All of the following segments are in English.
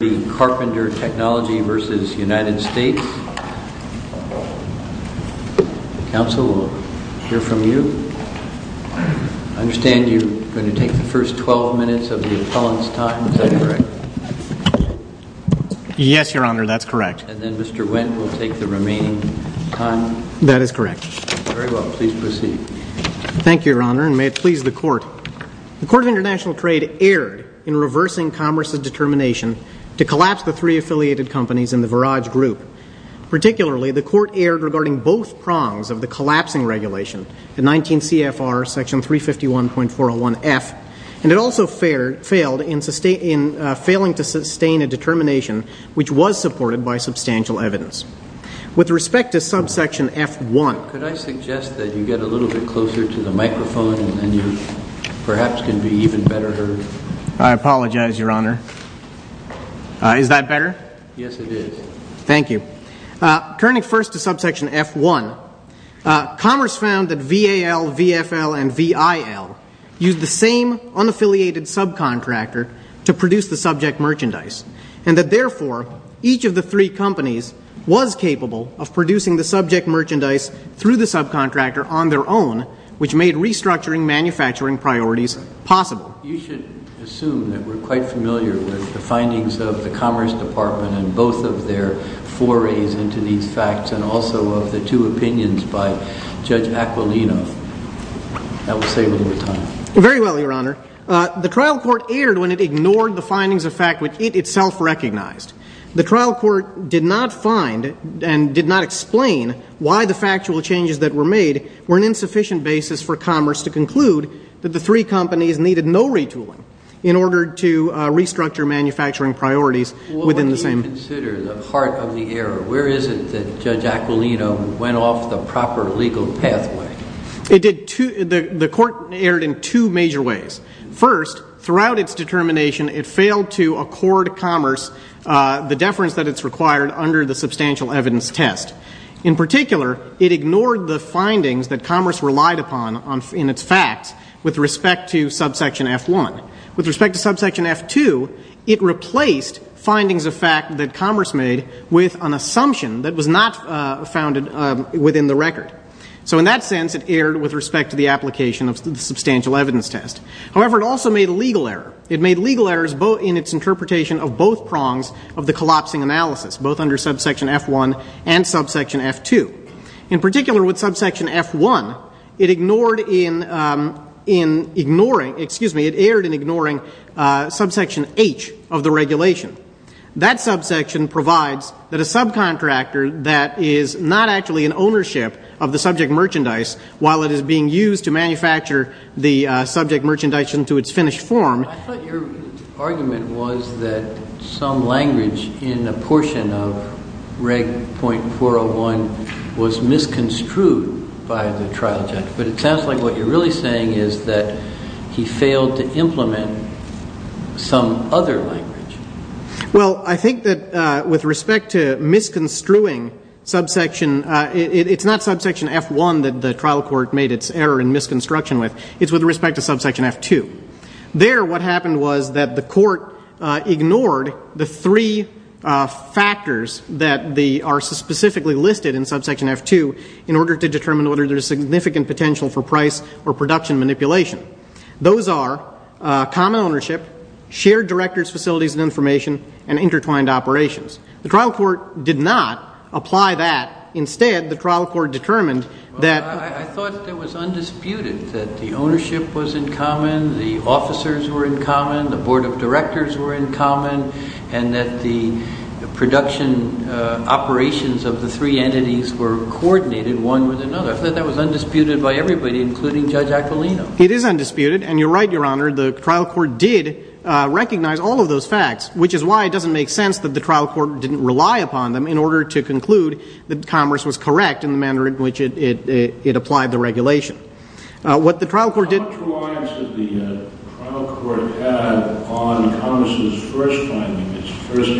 The Court of International Trade erred in reversing Commerce's determination to collapse the three affiliated companies in the Verage Group. Particularly, the Court erred regarding both prongs of the collapsing regulation, the 19 CFR section 351.401F, and it also failed in failing to sustain a determination which was supported by substantial evidence. With respect to subsection F1 Could I suggest that you get a little bit closer to the microphone and you perhaps can be even better heard? I apologize, Your Honor. Is that better? Yes, it is. Thank you. Turning first to subsection F1, Commerce found that VAL, VFL, and VIL used the same unaffiliated subcontractor to produce the subject merchandise, and that therefore, each of the three companies was capable of producing the subject merchandise through the subcontractor on their own, which made restructuring manufacturing priorities possible. You should assume that we're quite familiar with the findings of the Commerce Department and both of their forays into these facts, and also of the two opinions by Judge Aquilino. That will save a little bit of time. Very well, Your Honor. The trial court erred when it ignored the findings of fact which it itself recognized. The trial court did not find and did not explain why the factual changes that were made were an insufficient basis for Commerce to conclude that the three companies needed no retooling in order to restructure manufacturing priorities within the same. What do you consider the heart of the error? Where is it that Judge Aquilino went off the proper legal pathway? The court erred in two major ways. First, throughout its determination, it failed to accord Commerce the deference that it's required under the substantial evidence test. In particular, it ignored the findings that Commerce relied upon in its facts with respect to subsection F1. With respect to subsection F2, it replaced findings of fact that Commerce made with an assumption that was not founded within the record. So in that sense, it erred with respect to the application of the substantial evidence test. However, it also made a legal error. It made legal errors in its interpretation of both prongs of the it ignored in ignoring, excuse me, it erred in ignoring subsection H of the regulation. That subsection provides that a subcontractor that is not actually in ownership of the subject merchandise while it is being used to manufacture the subject merchandise into its finished form I thought your argument was that some language in a portion of Reg.401 was misconstrued by the trial judge. But it sounds like what you're really saying is that he failed to implement some other language. Well, I think that with respect to misconstruing subsection, it's not subsection F1 that the trial court made its error in misconstruction with. It's with respect to subsection F2. There, what happened was that the court ignored the three factors that are specifically listed in subsection F2 in order to determine whether there's significant potential for price or production manipulation. Those are common ownership, shared director's facilities and information, and intertwined operations. The trial court did not apply that. Instead, the trial court determined that I thought it was undisputed that the ownership was in common, the officers were in common, the board of directors were in common, and that the production operations of the three entities were coordinated one with another. I thought that was undisputed by everybody, including Judge Aquilino. It is undisputed, and you're right, Your Honor. The trial court did recognize all of those facts, which is why it doesn't make sense that the trial court didn't rely upon them in order to conclude that Commerce was correct in the manner in which it applied the regulation. What the trial court did... How much reliance did the trial court have on Commerce's first findings, its first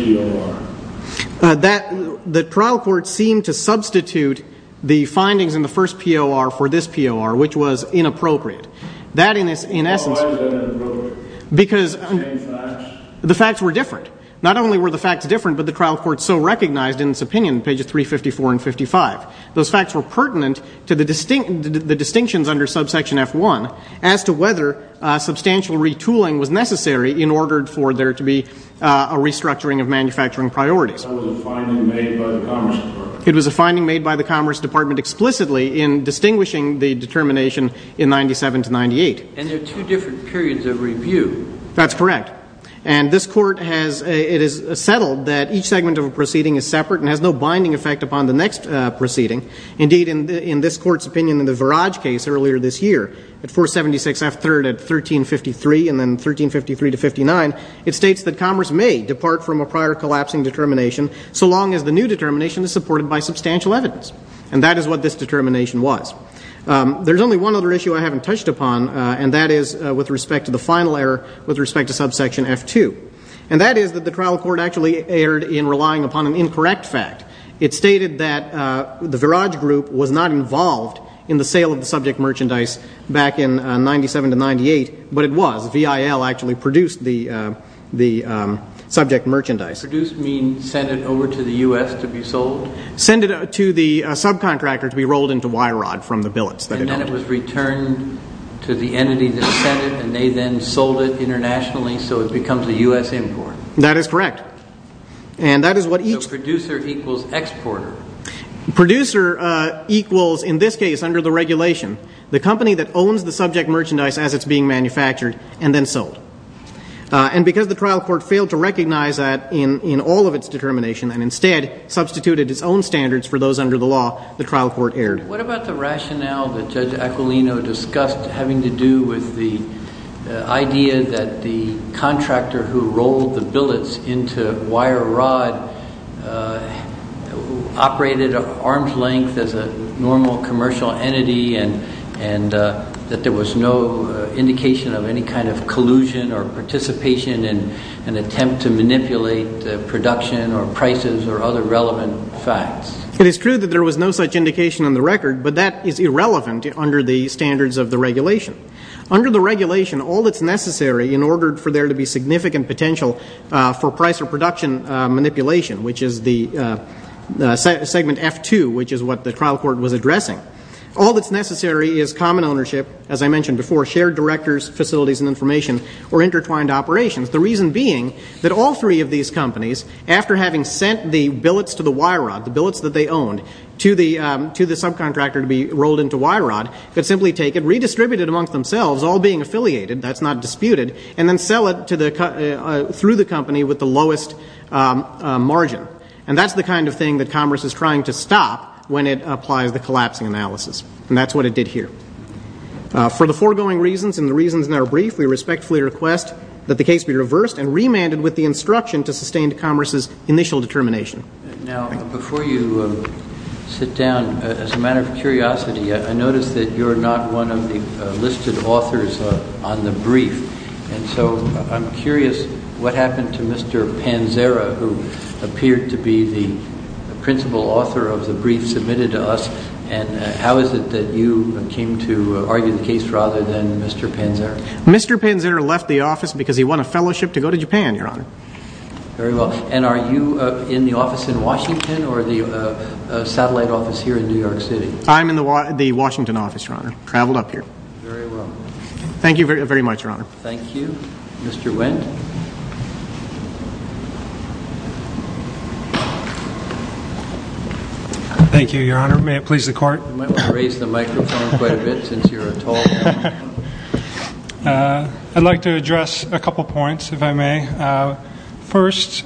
POR? The trial court seemed to substitute the findings in the first POR for this POR, which was inappropriate. Why was that inappropriate? Because the facts were different. Not only were the facts different, but the trial court so recognized in its opinion, pages 354 and 55, those facts were pertinent to the distinctions under subsection F1 as to whether substantial retooling was necessary in order for there to be a restructuring of manufacturing priorities. That was a finding made by the Commerce Department. It was a finding made by the Commerce Department explicitly in distinguishing the determination in 97 to 98. And there are two different periods of review. That's correct. And this court has... it has settled that each segment of a proceeding is separate and has no binding effect upon the next proceeding. Indeed, in this court's opinion in the Viraj case earlier this year, at 476 F3rd at 1353 and then 1353 to 59, it states that Commerce may depart from a prior collapsing determination so long as the new determination is supported by substantial evidence. And that is what this determination was. There's only one other issue I haven't touched upon, and that is with respect to the final error with respect to subsection F2. And that is that the trial court actually erred in relying upon an incorrect fact. It stated that the Viraj group was not involved in the sale of the subject merchandise back in 97 to 98, but it was. VIL actually produced the subject merchandise. Produced means sent it over to the U.S. to be sold? Sent it to the subcontractor to be rolled into wire rod from the billets. And then it was returned to the entity that sent it, and they then sold it internationally so it becomes a U.S. import? That is correct. And that is what each... So producer equals exporter. Producer equals, in this case under the regulation, the company that owns the subject merchandise as it's being manufactured and then sold. And because the trial court failed to recognize that in all of its determination and instead substituted its own standards for those under the law, the trial court erred. What about the rationale that Judge Aquilino discussed having to do with the idea that the contractor who rolled the billets into wire rod operated at arm's length as a normal commercial entity and that there was no indication of any kind of collusion or participation in an attempt to manipulate production or prices or other relevant facts? It is true that there was no such indication on the record, but that is irrelevant under the standards of the regulation. Under the regulation, all that's necessary in order for there to be significant potential for price or production manipulation, which is the segment F2, which is what the trial court was addressing, all that's necessary is common ownership, as I mentioned before, shared directors, facilities and information, or intertwined operations. The reason being that all three of these companies, after having sent the billets to the wire rod, the billets that they owned, to the subcontractor to be rolled into wire rod, could simply take it, redistribute it amongst themselves, all being affiliated, that's not disputed, and then sell it through the company with the lowest margin. And that's the kind of thing that Congress is trying to stop when it applies the collapsing analysis. And that's what it did here. For the foregoing reasons and the reasons in our brief, we respectfully request that the case be reversed and remanded with the instruction to sustain Congress's initial determination. Now, before you sit down, as a matter of curiosity, I notice that you're not one of the listed authors on the brief. And so I'm curious what happened to Mr. Panzera, who appeared to be the principal author of the brief submitted to us, and how is it that you came to argue the case rather than Mr. Panzera? Mr. Panzera left the office because he won a fellowship to go to Japan, Your Honor. Very well. And are you in the office in Washington or the satellite office here in New York City? I'm in the Washington office, Your Honor. Traveled up here. Very well. Thank you very much, Your Honor. Thank you. Mr. Wendt. Thank you, Your Honor. May it please the Court? You might want to raise the microphone quite a bit since you're a tall man. I'd like to address a couple of points, if I may. First,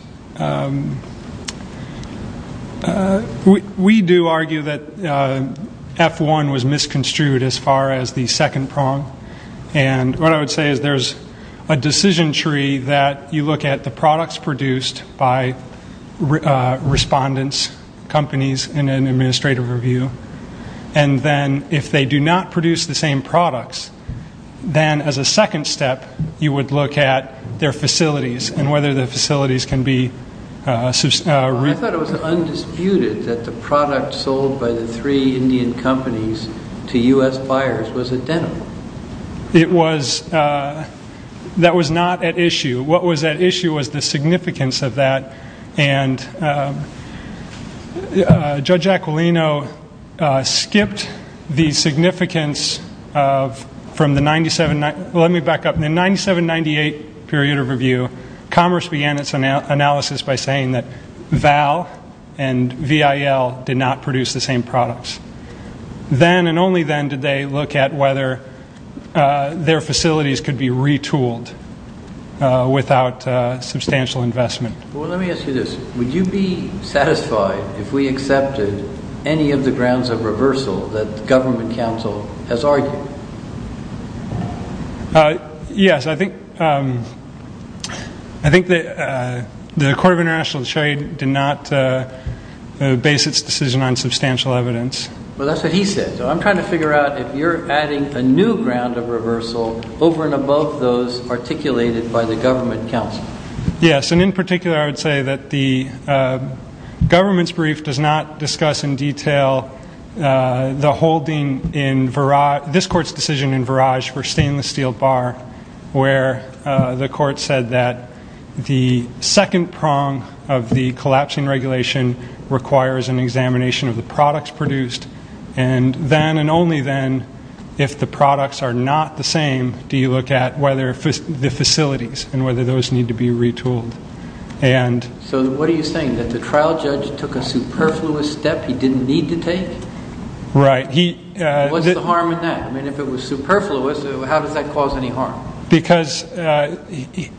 we do argue that F-1 was misconstrued as far as the second prong. And what I would say is there's a decision tree that you look at the process, the products produced by respondents, companies in an administrative review, and then if they do not produce the same products, then as a second step, you would look at their facilities and whether the facilities can be reused. I thought it was undisputed that the product sold by the three Indian companies to U.S. buyers was a denim. That was not at issue. What was at issue was the significance of that. And Judge Aquilino skipped the significance of from the 97- let me back up. In the 97-98 period of review, Commerce began its analysis by saying that Val and VIL did not produce the same products. Then and only then did they look at whether their facilities could be retooled without substantial investment. Well, let me ask you this. Would you be satisfied if we accepted any of the grounds of reversal that government counsel has argued? Yes. I think the Court of International Trade did not base its decision on substantial evidence. Well, that's what he said. So I'm trying to figure out if you're adding a new ground of reversal over and above those articulated by the government counsel. Yes. And in particular, I would say that the government's brief does not discuss in detail the holding in this court's decision in Verage for stainless steel bar where the court said that the second prong of the collapsing regulation requires an examination of the products produced. And then and only then, if the products are not the same, do you look at whether the facilities and whether those need to be retooled. So what are you saying? That the trial judge took a superfluous step he didn't need to take? Right. What's the harm in that? I mean, if it was superfluous, how does that cause any harm? Because the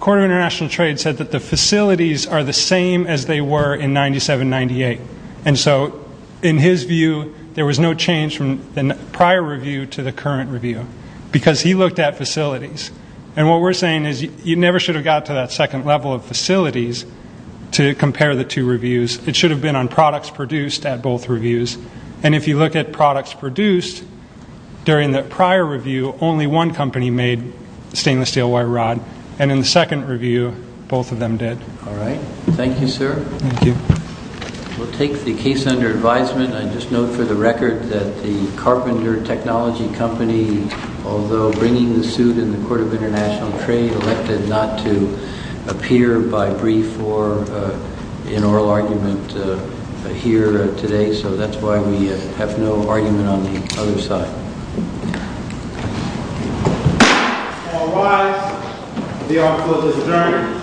Court of International Trade said that the facilities are the same as they were in 97-98. And so in his view, there was no change from the prior review to the current review because he looked at facilities. And what we're saying is you never should have got to that second level of facilities to compare the two reviews. It should have been on products produced at both reviews. And if you look at products produced during the prior review, only one company made stainless steel wire rod. And in the second review, both of them did. All right. Thank you, sir. Thank you. We'll take the case under advisement. I just note for the record that the Carpenter Technology Company, although bringing the suit in the Court of International Trade, elected not to appear by brief or in oral argument here today. So that's why we have no argument on the other side. All rise. The honor code is adjourned. Are we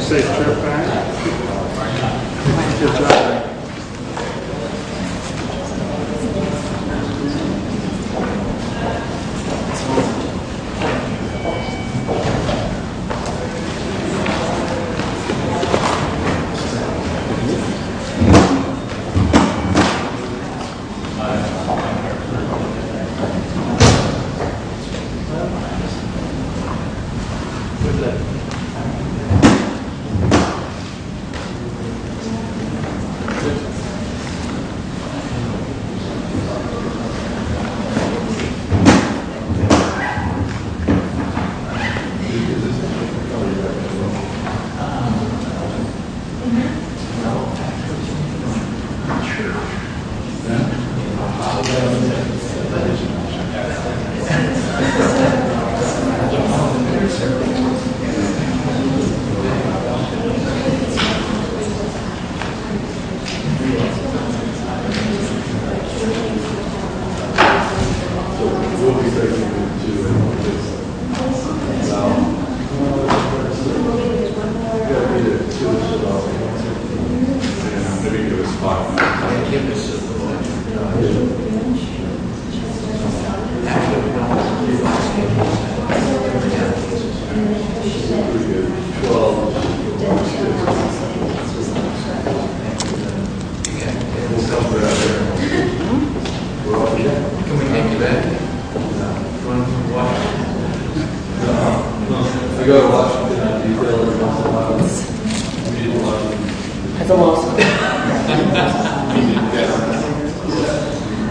safe to turn it back? Thank you. Thank you. Thank you. Thank you. Thank you.